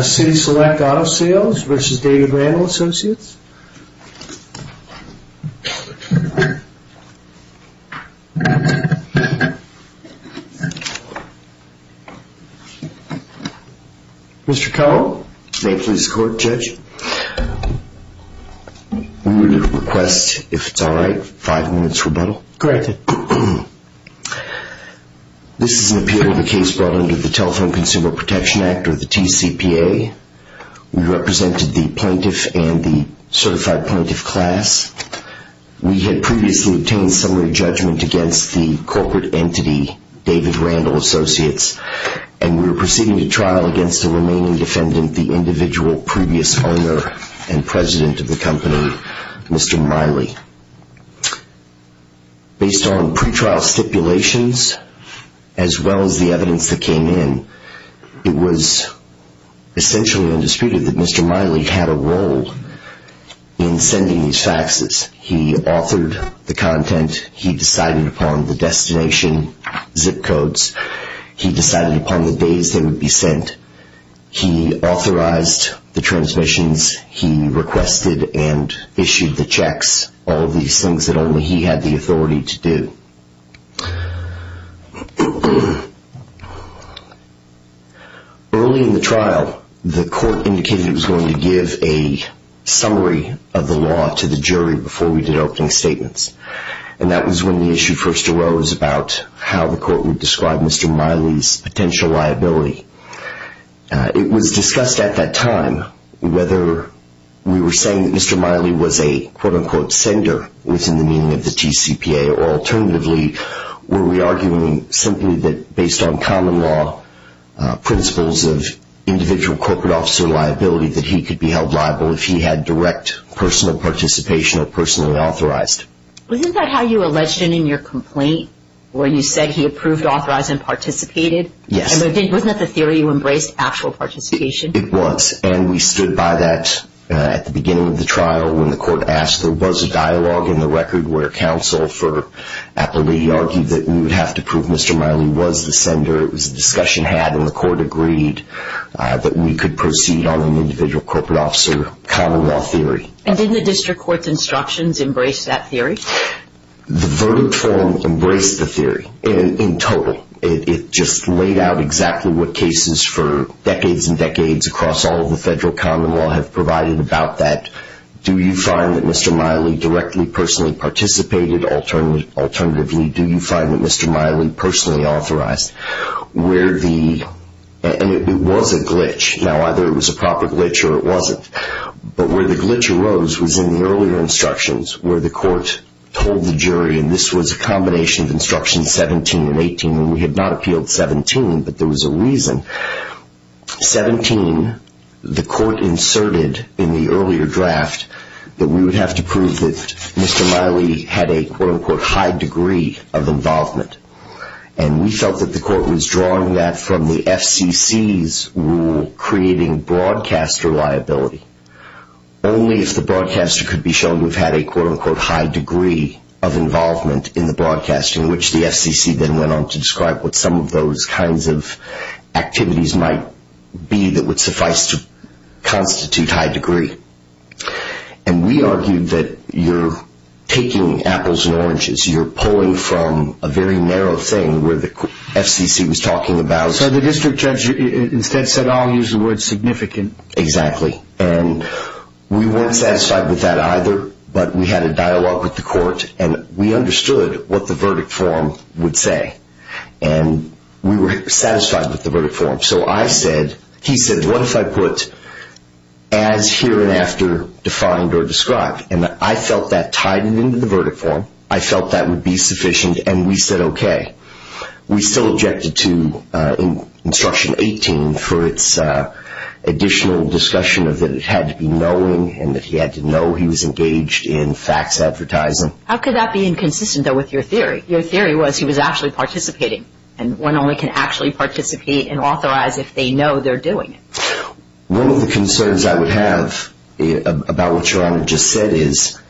City Select Auto Sales v. David Randall Associates Mr. Kello Thank you for your support, Judge. We would request, if it's alright, five minutes rebuttal. Corrected. This is an appeal of the case brought under the Telephone Consumer Protection Act, or the TCPA. We represented the plaintiff and the certified plaintiff class. We had previously obtained summary judgment against the corporate entity, David Randall Associates, and we are proceeding to trial against the remaining defendant, the individual previous owner and president of the company, Mr. Miley. Based on pretrial stipulations, as well as the evidence that came in, it was essentially undisputed that Mr. Miley had a role in sending these faxes. He authored the content, he decided upon the destination zip codes, he decided upon the days they would be sent, he authorized the transmissions, he requested and issued the checks, all these things that only he had the authority to do. Early in the trial, the court indicated it was going to give a summary of the law to the jury before we did opening statements, and that was when the issue first arose about how the court would describe Mr. Miley's potential liability. It was discussed at that time whether we were saying that Mr. Miley was a quote-unquote sender within the meaning of the TCPA, or alternatively were we arguing simply that based on common law principles of individual corporate officer liability that he could be held liable if he had direct personal participation or personally authorized. Wasn't that how you alleged it in your complaint, where you said he approved, authorized, and participated? Yes. Wasn't that the theory you embraced, actual participation? It was, and we stood by that at the beginning of the trial when the court asked. There was a dialogue in the record where counsel for Appalachia argued that we would have to prove Mr. Miley was the sender. It was a discussion had, and the court agreed that we could proceed on an individual corporate officer common law theory. The verdict forum embraced the theory in total. It just laid out exactly what cases for decades and decades across all of the federal common law have provided about that. Do you find that Mr. Miley directly, personally participated? Alternatively, do you find that Mr. Miley personally authorized? It was a glitch. Now, either it was a proper glitch or it wasn't, but where the glitch arose was in the earlier instructions where the court told the jury, and this was a combination of instructions 17 and 18, and we had not appealed 17, but there was a reason. 17, the court inserted in the earlier draft that we would have to prove that Mr. Miley had a, quote-unquote, high degree of involvement. And we felt that the court was drawing that from the FCC's rule creating broadcaster liability. Only if the broadcaster could be shown to have had a, quote-unquote, high degree of involvement in the broadcasting, which the FCC then went on to describe what some of those kinds of activities might be that would suffice to constitute high degree. And we argued that you're taking apples and oranges. You're pulling from a very narrow thing where the FCC was talking about. So the district judge instead said, I'll use the word significant. Exactly, and we weren't satisfied with that either, but we had a dialogue with the court, and we understood what the verdict form would say, and we were satisfied with the verdict form. So I said, he said, what if I put as here and after defined or described? And I felt that tied into the verdict form. I felt that would be sufficient, and we said, okay. We still objected to instruction 18 for its additional discussion of that it had to be knowing and that he had to know he was engaged in fax advertising. How could that be inconsistent, though, with your theory? Your theory was he was actually participating, and one only can actually participate and authorize if they know they're doing it. One of the concerns I would have about what Your Honor just said is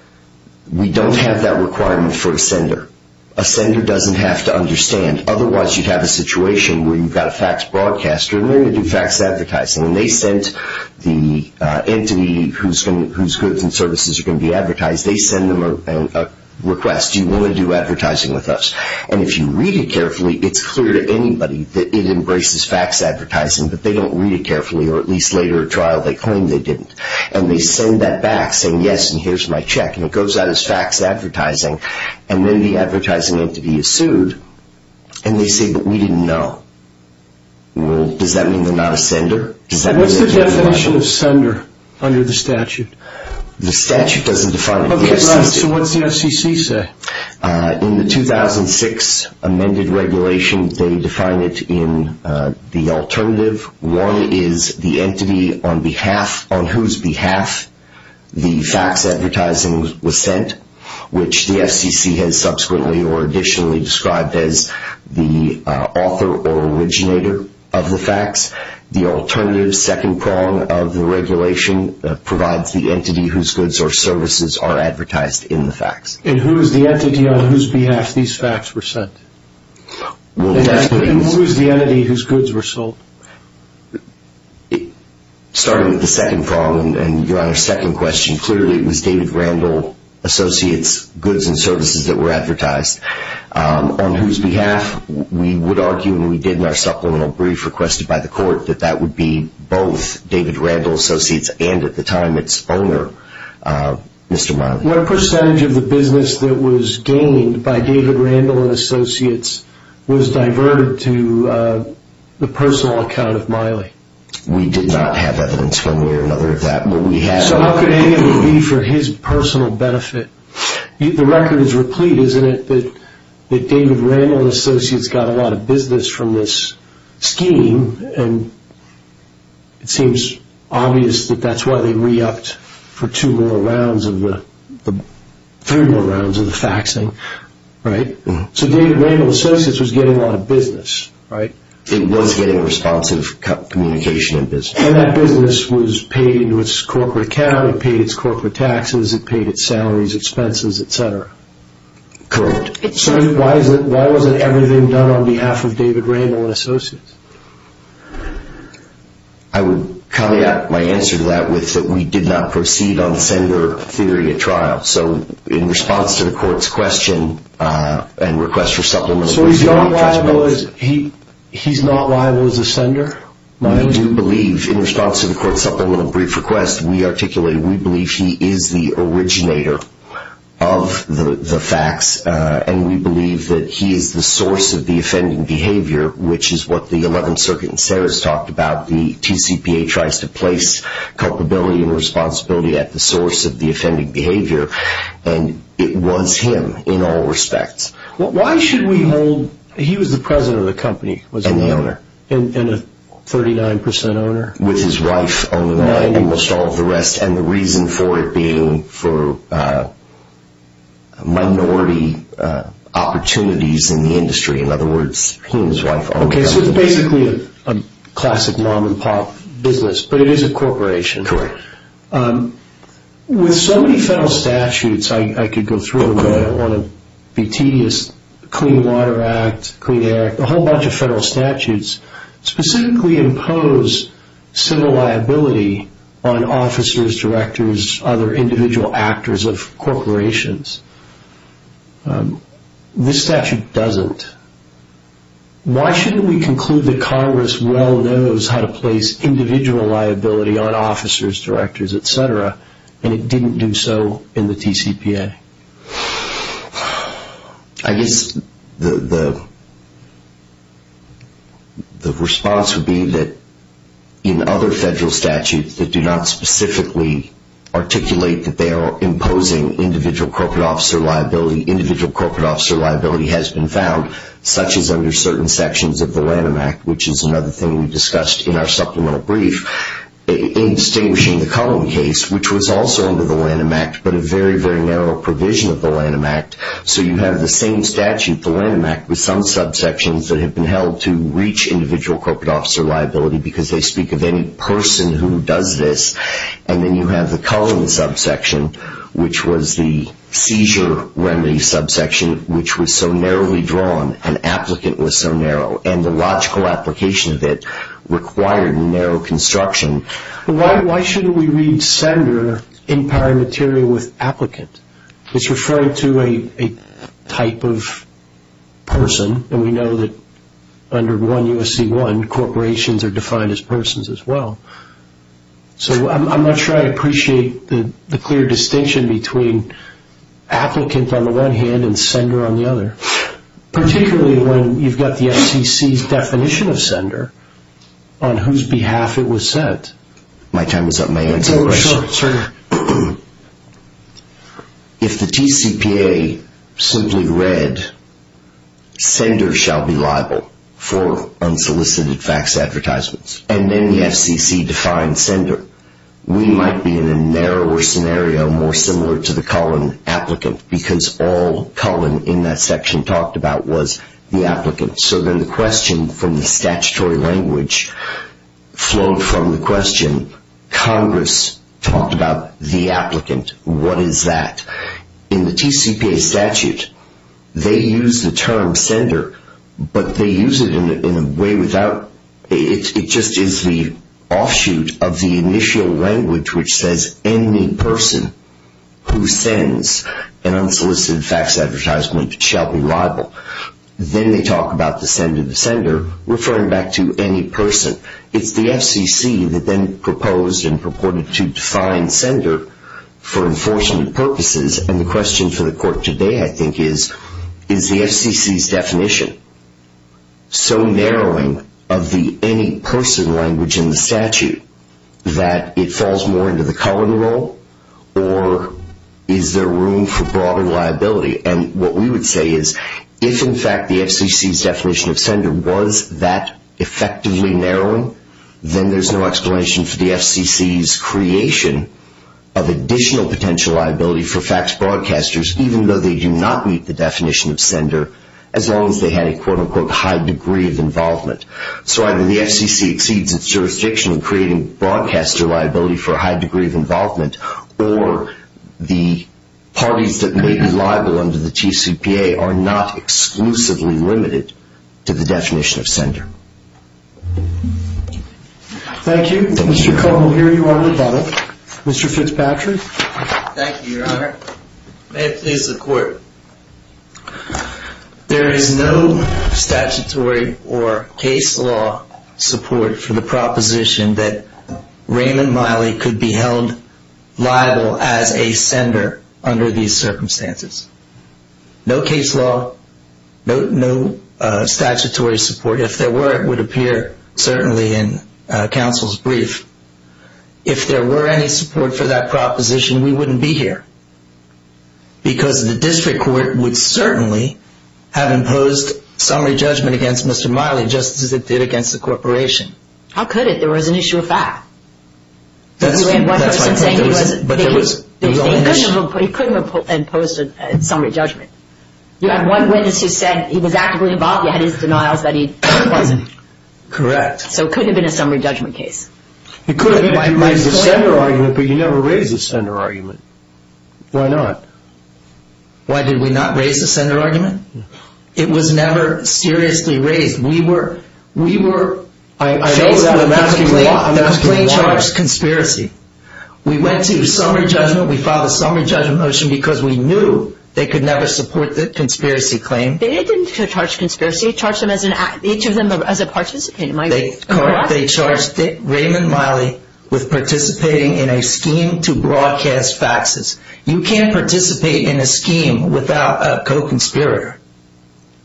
we don't have that requirement for a sender. A sender doesn't have to understand. Otherwise, you'd have a situation where you've got a fax broadcaster and they're going to do fax advertising, and they sent the entity whose goods and services are going to be advertised. They send them a request. Do you want to do advertising with us? And if you read it carefully, it's clear to anybody that it embraces fax advertising, but they don't read it carefully, or at least later in trial they claim they didn't. And they send that back saying, yes, and here's my check, and it goes out as fax advertising. And then the advertising entity is sued, and they say, but we didn't know. Does that mean they're not a sender? What's the definition of sender under the statute? The statute doesn't define it. Okay, right. So what does the FCC say? In the 2006 amended regulation, they define it in the alternative. One is the entity on whose behalf the fax advertising was sent, which the FCC has subsequently or additionally described as the author or originator of the fax. The alternative, second prong of the regulation, provides the entity whose goods or services are advertised in the fax. And who is the entity on whose behalf these fax were sent? And who is the entity whose goods were sold? Starting with the second prong and Your Honor's second question, clearly it was David Randall Associates' goods and services that were advertised. On whose behalf? We would argue, and we did in our supplemental brief requested by the court, that that would be both David Randall Associates and at the time its owner, Mr. Miley. What percentage of the business that was gained by David Randall and Associates was diverted to the personal account of Miley? We did not have evidence one way or another of that. So how could any of it be for his personal benefit? The record is replete, isn't it, that David Randall and Associates got a lot of business from this scheme, and it seems obvious that that's why they re-upped for two more rounds of the faxing. So David Randall and Associates was getting a lot of business. It was getting responsive communication and business. And that business was paid into its corporate account, it paid its corporate taxes, it paid its salaries, expenses, et cetera. So why wasn't everything done on behalf of David Randall and Associates? I would caveat my answer to that with that we did not proceed on sender theory at trial. So in response to the court's question and request for supplemental brief request. So he's not liable as a sender? We do believe, in response to the court's supplemental brief request, we articulate we believe he is the originator of the fax, and we believe that he is the source of the offending behavior, which is what the 11th Circuit in Saras talked about. The TCPA tries to place culpability and responsibility at the source of the offending behavior, and it was him in all respects. Why should we hold – he was the president of the company, wasn't he? And the owner. And a 39 percent owner? With his wife owning almost all of the rest, and the reason for it being for minority opportunities in the industry. In other words, he and his wife own the company. Okay, so it's basically a classic mom-and-pop business, but it is a corporation. Correct. With so many federal statutes, I could go through them. I don't want to be tedious. Clean Water Act, Clean Air, a whole bunch of federal statutes specifically impose civil liability on officers, directors, other individual actors of corporations. This statute doesn't. Why shouldn't we conclude that Congress well knows how to place individual liability on officers, directors, et cetera, and it didn't do so in the TCPA? I guess the response would be that in other federal statutes that do not specifically articulate that they are imposing individual corporate officer liability, individual corporate officer liability has been found, such as under certain sections of the Lanham Act, which is another thing we discussed in our supplemental brief, in distinguishing the Cullen case, which was also under the Lanham Act, but a very, very narrow provision of the Lanham Act. So you have the same statute, the Lanham Act, with some subsections that have been held to reach individual corporate officer liability because they speak of any person who does this. And then you have the Cullen subsection, which was the seizure remedy subsection, which was so narrowly drawn, an applicant was so narrow, and the logical application of it required narrow construction. Why shouldn't we read sender in paramaterial with applicant? It's referring to a type of person, and we know that under 1 U.S.C. 1 corporations are defined as persons as well. So I'm not sure I appreciate the clear distinction between applicant on the one hand and sender on the other, particularly when you've got the FCC's definition of sender on whose behalf it was sent. My time is up. May I answer the question? Sure. If the TCPA simply read sender shall be liable for unsolicited fax advertisements, and then the FCC defines sender, we might be in a narrower scenario more similar to the Cullen applicant because all Cullen in that section talked about was the applicant. So then the question from the statutory language flowed from the question, Congress talked about the applicant. What is that? In the TCPA statute they use the term sender, but they use it in a way without, it just is the offshoot of the initial language, which says any person who sends an unsolicited fax advertisement shall be liable. Then they talk about the sender, the sender, referring back to any person. It's the FCC that then proposed and purported to define sender for enforcement purposes, and the question for the court today I think is, is the FCC's definition so narrowing of the any person language in the statute that it falls more into the Cullen role, or is there room for broader liability? And what we would say is if in fact the FCC's definition of sender was that effectively narrowing, then there's no explanation for the FCC's creation of additional potential liability for fax broadcasters, even though they do not meet the definition of sender, as long as they had a quote-unquote high degree of involvement. So either the FCC exceeds its jurisdiction in creating broadcaster liability for a high degree of involvement, or the parties that may be liable under the TCPA are not exclusively limited to the definition of sender. Thank you. Mr. Cullen, here you are with that. Mr. Fitzpatrick. May it please the Court. There is no statutory or case law support for the proposition that Raymond Miley could be held liable as a sender under these circumstances. No case law, no statutory support. If there were, it would appear certainly in counsel's brief. If there were any support for that proposition, we wouldn't be here, because the district court would certainly have imposed summary judgment against Mr. Miley, just as it did against the corporation. How could it? There was an issue of fact. That's my point. He couldn't have imposed a summary judgment. You had one witness who said he was actively involved. He had his denials that he wasn't. Correct. So it couldn't have been a summary judgment case. It could have been a sender argument, but you never raised a sender argument. Why not? Why did we not raise a sender argument? It was never seriously raised. We were faced with a complaint. The complaint charged conspiracy. We went to summary judgment. We filed a summary judgment motion because we knew they could never support the conspiracy claim. They didn't charge conspiracy. They charged each of them as a participant. Am I correct? Correct. They charged Raymond Miley with participating in a scheme to broadcast faxes. You can't participate in a scheme without a co-conspirator.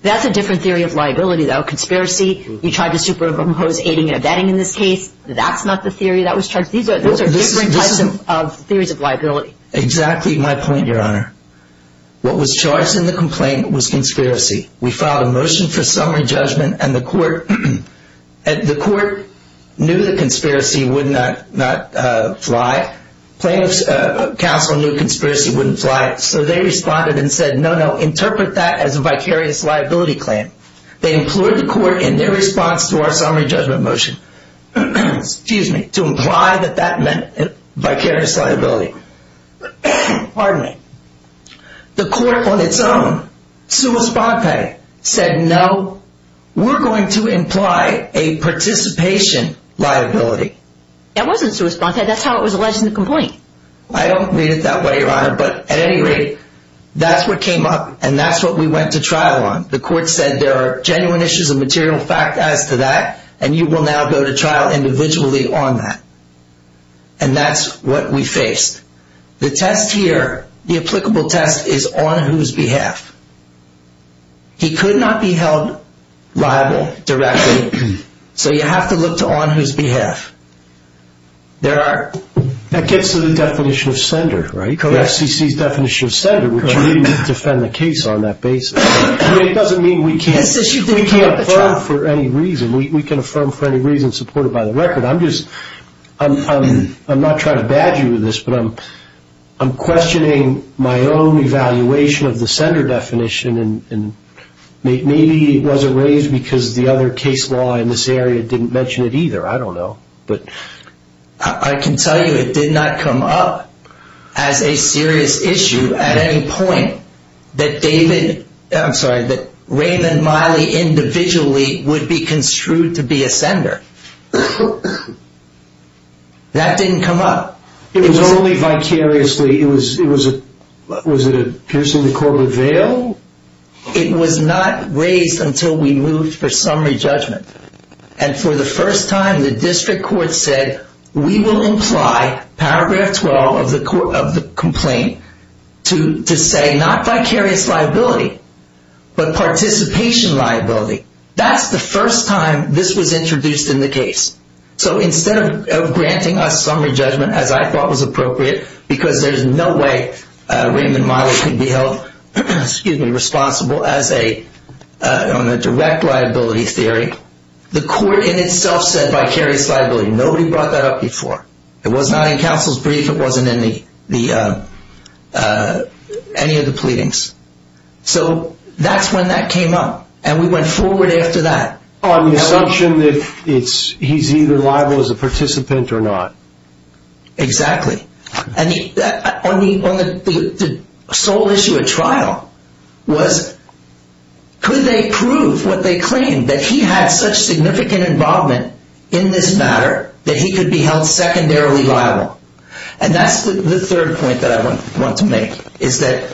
That's a different theory of liability, though. Conspiracy, you tried to superimpose aiding and abetting in this case. That's not the theory that was charged. Those are different types of theories of liability. Exactly my point, Your Honor. What was charged in the complaint was conspiracy. We filed a motion for summary judgment, and the court knew the conspiracy would not fly. Plaintiffs' counsel knew conspiracy wouldn't fly, so they responded and said, no, no, interpret that as a vicarious liability claim. They implored the court in their response to our summary judgment motion to imply that that meant vicarious liability. Pardon me. The court on its own, sua sponte, said, no, we're going to imply a participation liability. That wasn't sua sponte. That's how it was alleged in the complaint. I don't read it that way, Your Honor, but at any rate, that's what came up, and that's what we went to trial on. The court said there are genuine issues of material fact as to that, and you will now go to trial individually on that. And that's what we faced. The test here, the applicable test, is on whose behalf. He could not be held liable directly, so you have to look to on whose behalf. That gets to the definition of sender, right? Correct. The FCC's definition of sender, which we need to defend the case on that basis. It doesn't mean we can't affirm for any reason. We can affirm for any reason supported by the record. I'm not trying to badger you with this, but I'm questioning my own evaluation of the sender definition, and maybe it wasn't raised because the other case law in this area didn't mention it either. I don't know. I can tell you it did not come up as a serious issue at any point that Raymond Miley individually would be construed to be a sender. That didn't come up. It was only vicariously. Was it a piercing the court with a veil? It was not raised until we moved for summary judgment, and for the first time the district court said we will imply paragraph 12 of the complaint to say not vicarious liability, but participation liability. That's the first time this was introduced in the case. So instead of granting us summary judgment, as I thought was appropriate, because there's no way Raymond Miley could be held responsible on a direct liability theory, the court in itself said vicarious liability. Nobody brought that up before. It was not in counsel's brief. It wasn't in any of the pleadings. So that's when that came up, and we went forward after that. On the assumption that he's either liable as a participant or not. Exactly. And the sole issue at trial was could they prove what they claimed, that he had such significant involvement in this matter that he could be held secondarily liable. And that's the third point that I want to make, is that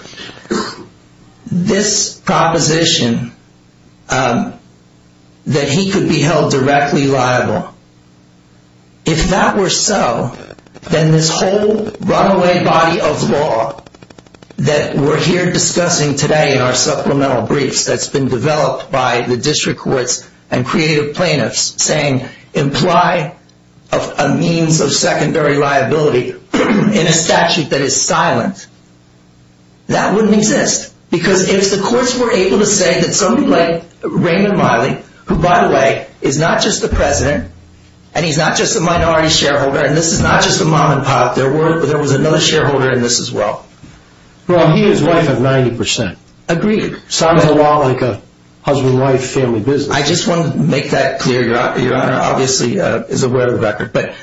this proposition that he could be held directly liable, if that were so, then this whole runaway body of law that we're here discussing today in our supplemental briefs that's been developed by the district courts and creative plaintiffs, saying imply a means of secondary liability in a statute that is silent, that wouldn't exist. Because if the courts were able to say that somebody like Raymond Miley, who, by the way, is not just the president, and he's not just a minority shareholder, and this is not just a mom and pop, there was another shareholder in this as well. Well, he and his wife have 90%. Agreed. Sounds a lot like a husband and wife family business. I just want to make that clear. Your Honor obviously is aware of the record. But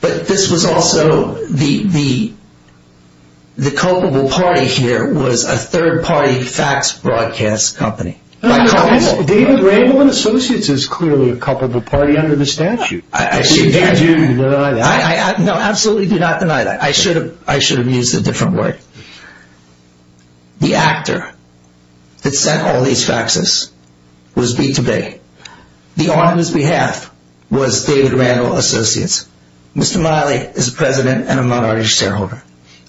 this was also the culpable party here was a third-party fax broadcast company. David Raymond Associates is clearly a culpable party under the statute. Do you deny that? No, absolutely do not deny that. I should have used a different word. The actor that sent all these faxes was B2B. The arm on his behalf was David Randall Associates. Mr. Miley is a president and a minority shareholder.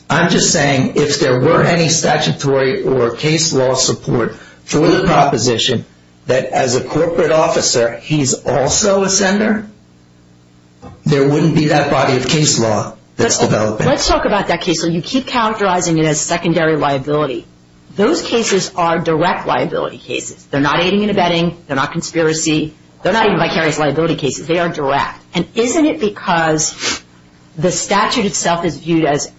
I'm just saying if there were any statutory or case law support for the proposition that as a corporate officer he's also a sender, there wouldn't be that body of case law that's developing. Let's talk about that case law. You keep characterizing it as secondary liability. Those cases are direct liability cases. They're not aiding and abetting. They're not conspiracy. They're not even vicarious liability cases. They are direct. And isn't it because the statute itself is viewed as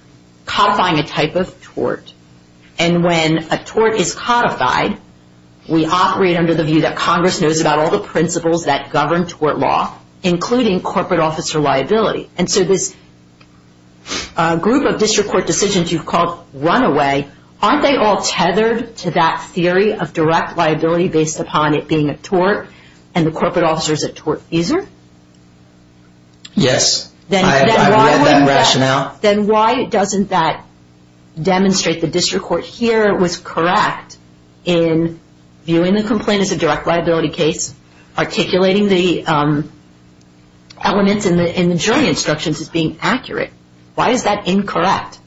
codifying a type of tort, and when a tort is codified, we operate under the view that Congress knows about all the principles that govern tort law, including corporate officer liability. And so this group of district court decisions you've called runaway, aren't they all tethered to that theory of direct liability based upon it being a tort and the corporate officer is a tort user? Yes. I've read that rationale. Then why doesn't that demonstrate the district court here was correct in viewing the complaint as a direct liability case, articulating the elements in the jury instructions as being accurate? Why is that incorrect?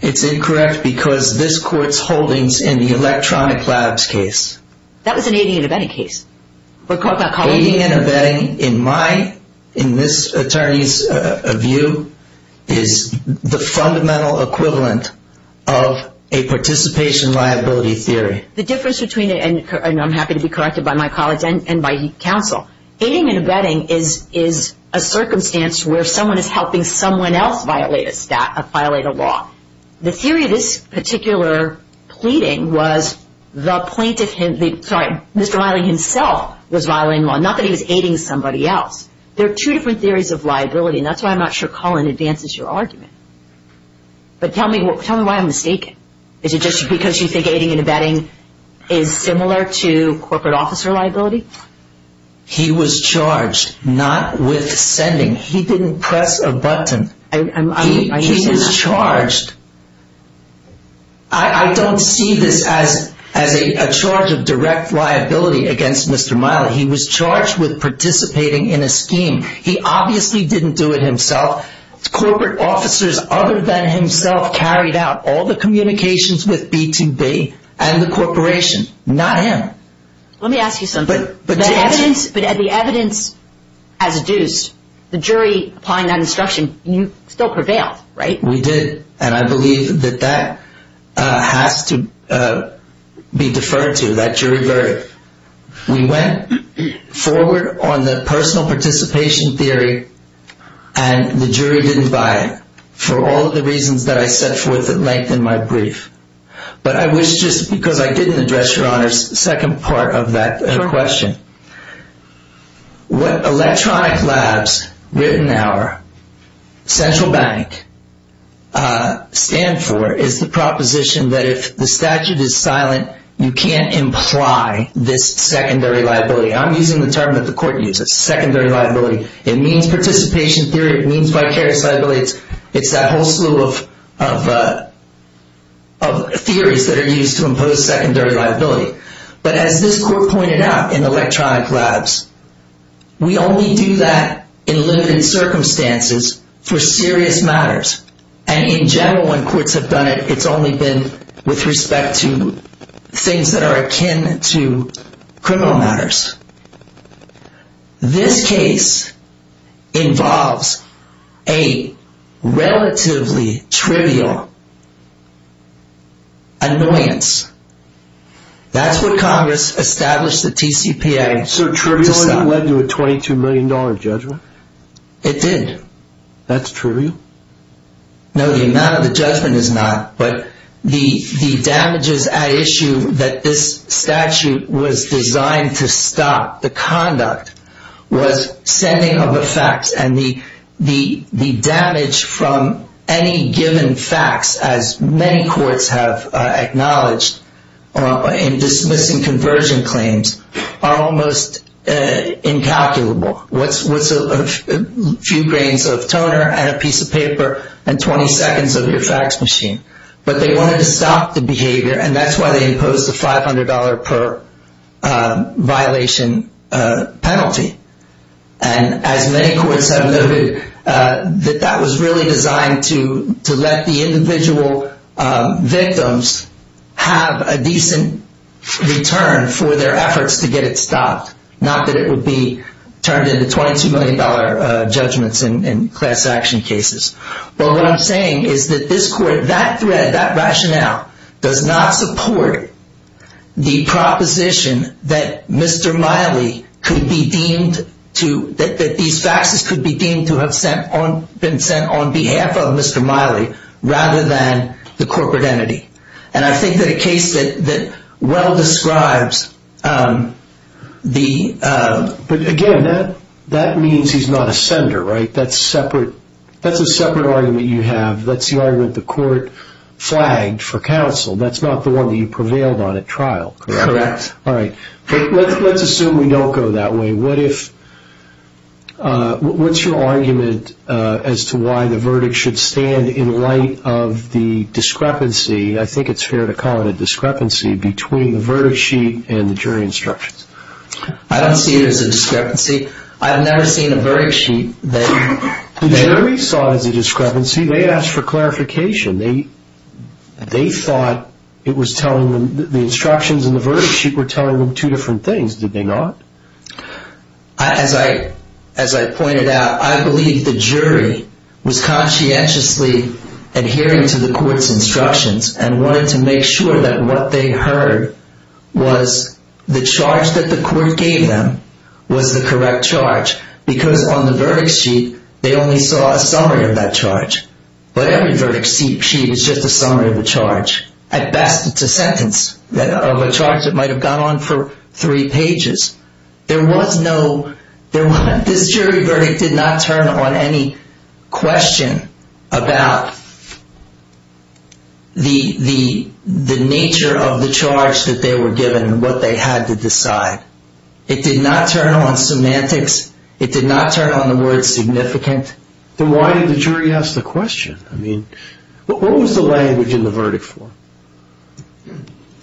It's incorrect because this court's holdings in the electronic labs case. That was an aiding and abetting case. Aiding and abetting, in this attorney's view, is the fundamental equivalent of a participation liability theory. The difference between it, and I'm happy to be corrected by my colleagues and by counsel, aiding and abetting is a circumstance where someone is helping someone else violate a law. The theory of this particular pleading was the plaintiff, sorry, Mr. Miley himself was violating the law, not that he was aiding somebody else. There are two different theories of liability, and that's why I'm not sure Colin advances your argument. But tell me why I'm mistaken. Is it just because you think aiding and abetting is similar to corporate officer liability? He was charged not with sending. He didn't press a button. He was charged. I don't see this as a charge of direct liability against Mr. Miley. He was charged with participating in a scheme. He obviously didn't do it himself. Corporate officers other than himself carried out all the communications with B2B and the corporation, not him. Let me ask you something. But the evidence as adduced, the jury applying that instruction, you still prevailed, right? We did, and I believe that that has to be deferred to. That jury verdict. We went forward on the personal participation theory, and the jury didn't buy it. For all of the reasons that I set forth at length in my brief. But I wish just because I didn't address your Honor's second part of that question. What Electronic Labs, Rittenhour, Central Bank stand for is the proposition that if the statute is silent, you can't imply this secondary liability. I'm using the term that the court uses, secondary liability. It means participation theory. It means vicarious liability. It's that whole slew of theories that are used to impose secondary liability. But as this court pointed out in Electronic Labs, we only do that in limited circumstances for serious matters. And in general, when courts have done it, it's only been with respect to things that are akin to criminal matters. This case involves a relatively trivial annoyance. That's what Congress established the TCPA. So triviality led to a $22 million judgment? It did. That's trivial? No, the amount of the judgment is not. But the damages at issue that this statute was designed to stop, the conduct, was sending of a fax. And the damage from any given fax, as many courts have acknowledged in dismissing conversion claims, are almost incalculable. What's a few grains of toner and a piece of paper and 20 seconds of your fax machine? But they wanted to stop the behavior, and that's why they imposed a $500 per violation penalty. And as many courts have noted, that that was really designed to let the individual victims have a decent return for their efforts to get it stopped. Not that it would be turned into $22 million judgments in class action cases. But what I'm saying is that this court, that thread, that rationale, does not support the proposition that Mr. Miley could be deemed to, that these faxes could be deemed to have been sent on behalf of Mr. Miley rather than the corporate entity. And I think that a case that well describes the... But again, that means he's not a sender, right? That's a separate argument you have. That's the argument the court flagged for counsel. That's not the one that you prevailed on at trial, correct? Correct. All right. Let's assume we don't go that way. What's your argument as to why the verdict should stand in light of the discrepancy, I think it's fair to call it a discrepancy, between the verdict sheet and the jury instructions? I don't see it as a discrepancy. I've never seen a verdict sheet that... The jury saw it as a discrepancy. They asked for clarification. They thought it was telling them... The instructions in the verdict sheet were telling them two different things, did they not? As I pointed out, I believe the jury was conscientiously adhering to the court's instructions and wanted to make sure that what they heard was the charge that the court gave them was the correct charge because on the verdict sheet, they only saw a summary of that charge. But every verdict sheet is just a summary of the charge. At best, it's a sentence of a charge that might have gone on for three pages. There was no... This jury verdict did not turn on any question about the nature of the charge that they were given and what they had to decide. It did not turn on semantics. It did not turn on the word significant. Then why did the jury ask the question? What was the language in the verdict form?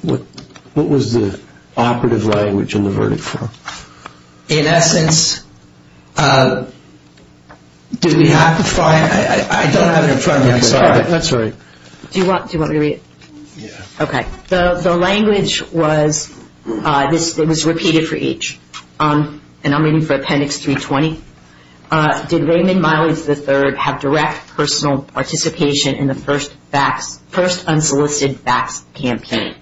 What was the operative language in the verdict form? In essence... Do we have to find... I don't have it in front of me, I'm sorry. That's all right. Do you want me to read it? Yeah. Okay. The language was... It was repeated for each. And I'm reading for Appendix 320. Did Raymond Miley III have direct personal participation in the first unsolicited fax campaign?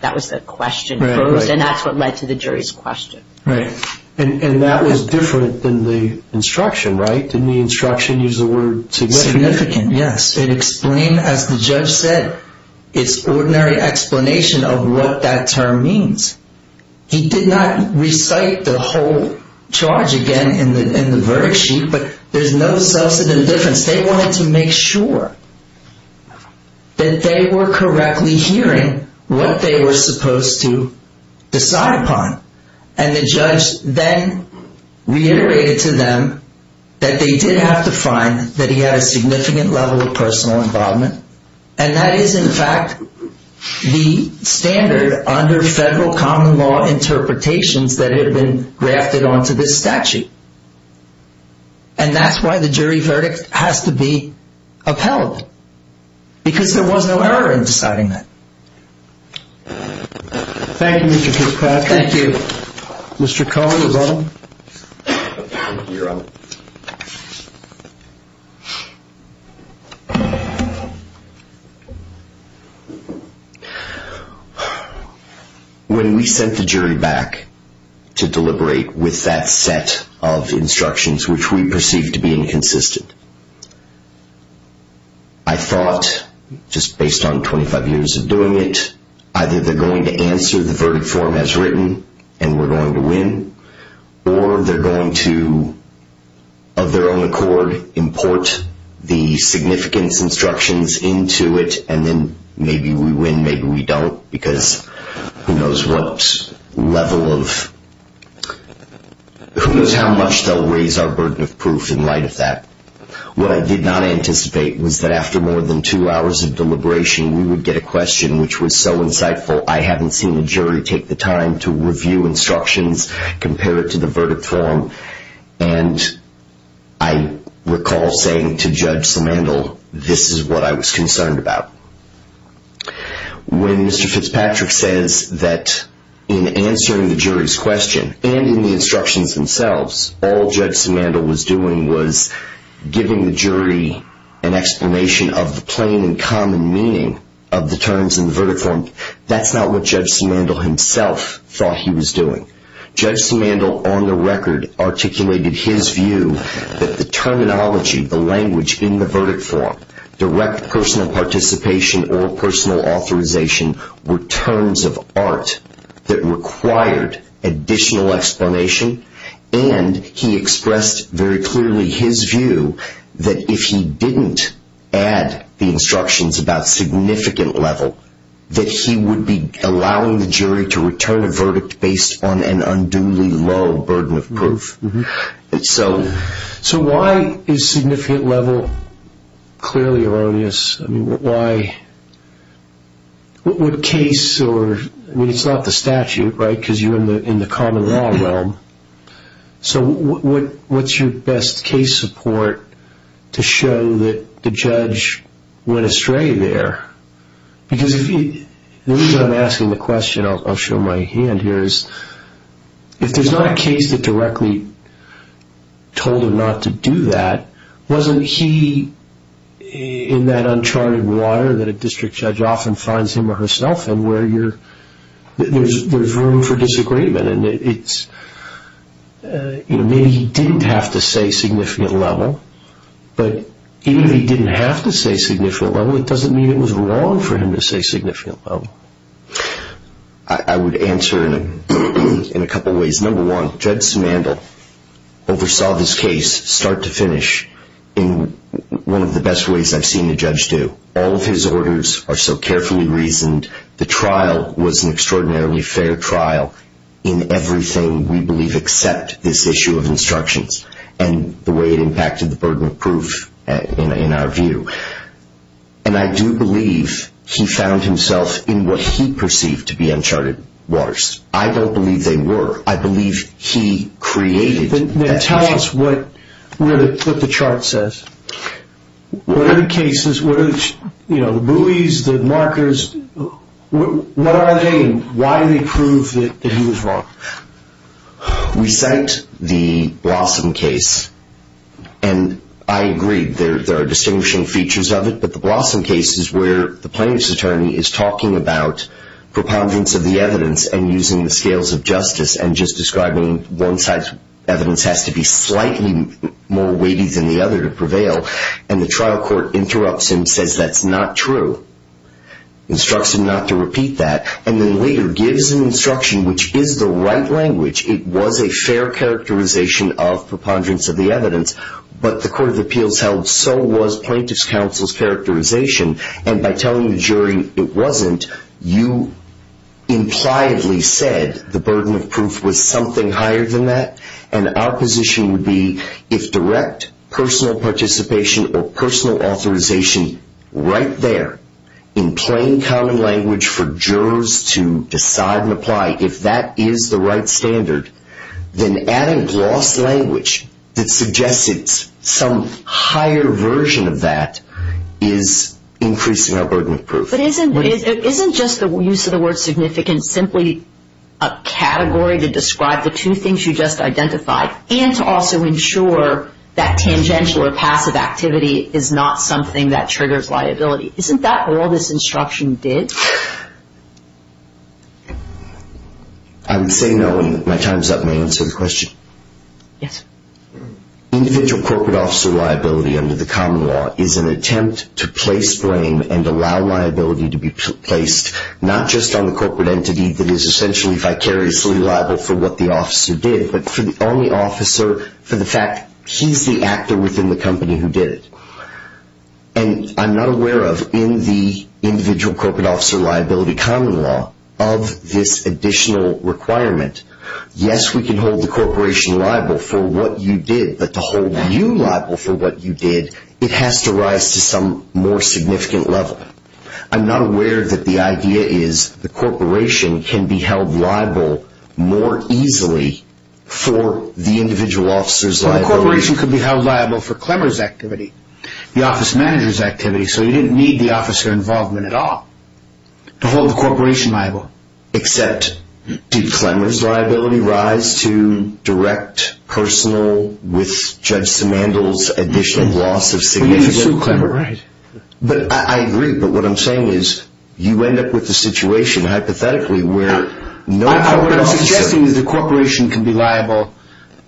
That was the question posed, and that's what led to the jury's question. Right. And that was different than the instruction, right? Didn't the instruction use the word significant? Significant, yes. It explained, as the judge said, its ordinary explanation of what that term means. He did not recite the whole charge again in the verdict sheet, but there's no substantive difference. They wanted to make sure that they were correctly hearing what they were supposed to decide upon. And the judge then reiterated to them that they did have to find that he had a significant level of personal involvement. And that is, in fact, the standard under federal common law interpretations that had been grafted onto this statute. And that's why the jury verdict has to be upheld, because there was no error in deciding that. Thank you, Mr. Kirkpatrick. Thank you. Mr. Cohen, is that all? You're on. When we sent the jury back to deliberate with that set of instructions, which we perceived to be inconsistent, I thought, just based on 25 years of doing it, either they're going to answer the verdict form as written and we're going to win, or they're going to, of their own accord, import the significance instructions into it and then maybe we win, maybe we don't, because who knows what level of, who knows how much they'll raise our burden of proof in light of that. What I did not anticipate was that after more than two hours of deliberation, we would get a question which was so insightful, I haven't seen a jury take the time to review instructions, compare it to the verdict form, and I recall saying to Judge Simandl, this is what I was concerned about. When Mr. Fitzpatrick says that in answering the jury's question and in the instructions themselves, all Judge Simandl was doing was giving the jury an explanation of the plain and common meaning of the terms in the verdict form, that's not what Judge Simandl himself thought he was doing. Judge Simandl, on the record, articulated his view that the terminology, the language in the verdict form, direct personal participation or personal authorization were terms of art that required additional explanation, and he expressed very clearly his view that if he didn't add the instructions about significant level, that he would be allowing the jury to return a verdict based on an unduly low burden of proof. So why is significant level clearly erroneous? I mean, why, what case, I mean, it's not the statute, right, because you're in the common law realm, so what's your best case support to show that the judge went astray there? Because the reason I'm asking the question, I'll show my hand here, is if there's not a case that directly told him not to do that, wasn't he in that uncharted water that a district judge often finds him or herself in where there's room for disagreement? Maybe he didn't have to say significant level, but even if he didn't have to say significant level, it doesn't mean it was wrong for him to say significant level. I would answer in a couple ways. Number one, Judge Samandel oversaw this case start to finish in one of the best ways I've seen a judge do. All of his orders are so carefully reasoned. The trial was an extraordinarily fair trial in everything we believe except this issue of instructions and the way it impacted the burden of proof in our view. And I do believe he found himself in what he perceived to be uncharted waters. I don't believe they were. I believe he created that. Now tell us what the chart says. What are the cases, you know, the buoys, the markers, what are they and why do they prove that he was wrong? We cite the Blossom case and I agree there are distinguishing features of it, but the Blossom case is where the plaintiff's attorney is talking about propoundings of the evidence and using the scales of justice and just describing one side's evidence has to be slightly more weighty than the other to prevail and the trial court interrupts him, says that's not true, instructs him not to repeat that, and then later gives an instruction which is the right language. It was a fair characterization of propoundings of the evidence, but the Court of Appeals held so was plaintiff's counsel's characterization and by telling the jury it wasn't, you impliedly said the burden of proof was something higher than that and our position would be if direct personal participation or personal authorization right there in plain common language for jurors to decide and apply if that is the right standard, then adding gloss language that suggests it's some higher version of that is increasing our burden of proof. But isn't just the use of the word significant simply a category to describe the two things you just identified and to also ensure that tangential or passive activity is not something that triggers liability? Isn't that all this instruction did? I would say no and my time's up. May I answer the question? Yes. Individual corporate officer liability under the common law is an attempt to place blame and allow liability to be placed not just on the corporate entity that is essentially vicariously liable for what the officer did, but for the only officer for the fact he's the actor within the company who did it. And I'm not aware of in the individual corporate officer liability common law of this additional requirement. Yes, we can hold the corporation liable for what you did, but to hold you liable for what you did, it has to rise to some more significant level. I'm not aware that the idea is the corporation can be held liable more easily for the individual officer's liability. The corporation could be held liable for Clemmer's activity, the office manager's activity, so you didn't need the officer involvement at all to hold the corporation liable. Except did Clemmer's liability rise to direct personal with Judge Simandl's additional loss of significant? Well, you can sue Clemmer, right. I agree, but what I'm saying is you end up with a situation hypothetically where no corporate officer. What you're suggesting is the corporation can be liable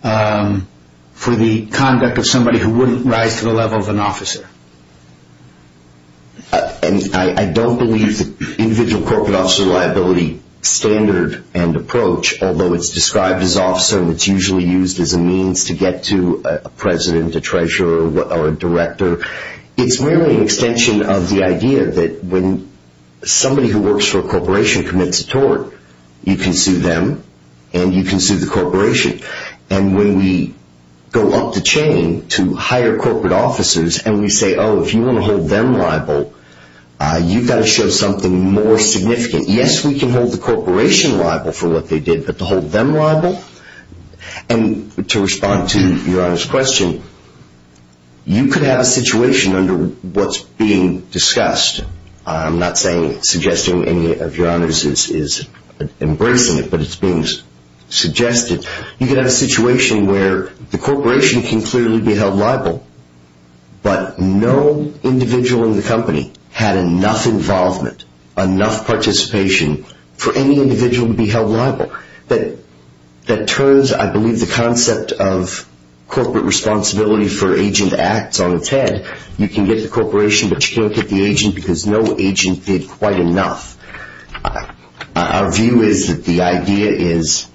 for the conduct of somebody who wouldn't rise to the level of an officer. And I don't believe the individual corporate officer liability standard and approach, although it's described as officer and it's usually used as a means to get to a president, a treasurer, or a director, it's merely an extension of the idea that when somebody who works for a corporation commits a tort, you can sue them and you can sue the corporation. And when we go up the chain to hire corporate officers and we say, oh, if you want to hold them liable, you've got to show something more significant. Yes, we can hold the corporation liable for what they did, but to hold them liable? And to respond to Your Honor's question, you could have a situation under what's being discussed. I'm not suggesting any of Your Honors is embracing it, but it's being suggested. You could have a situation where the corporation can clearly be held liable, but no individual in the company had enough involvement, enough participation, for any individual to be held liable. That turns, I believe, the concept of corporate responsibility for agent acts on its head. You can get the corporation, but you can't get the agent because no agent did quite enough. Our view is that the idea is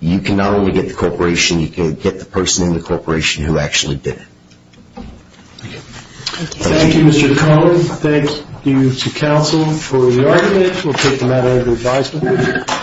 you can not only get the corporation, you can get the person in the corporation who actually did it. Thank you. Thank you, Mr. Collins. Thank you to counsel for your argument. We'll take the matter under advisement.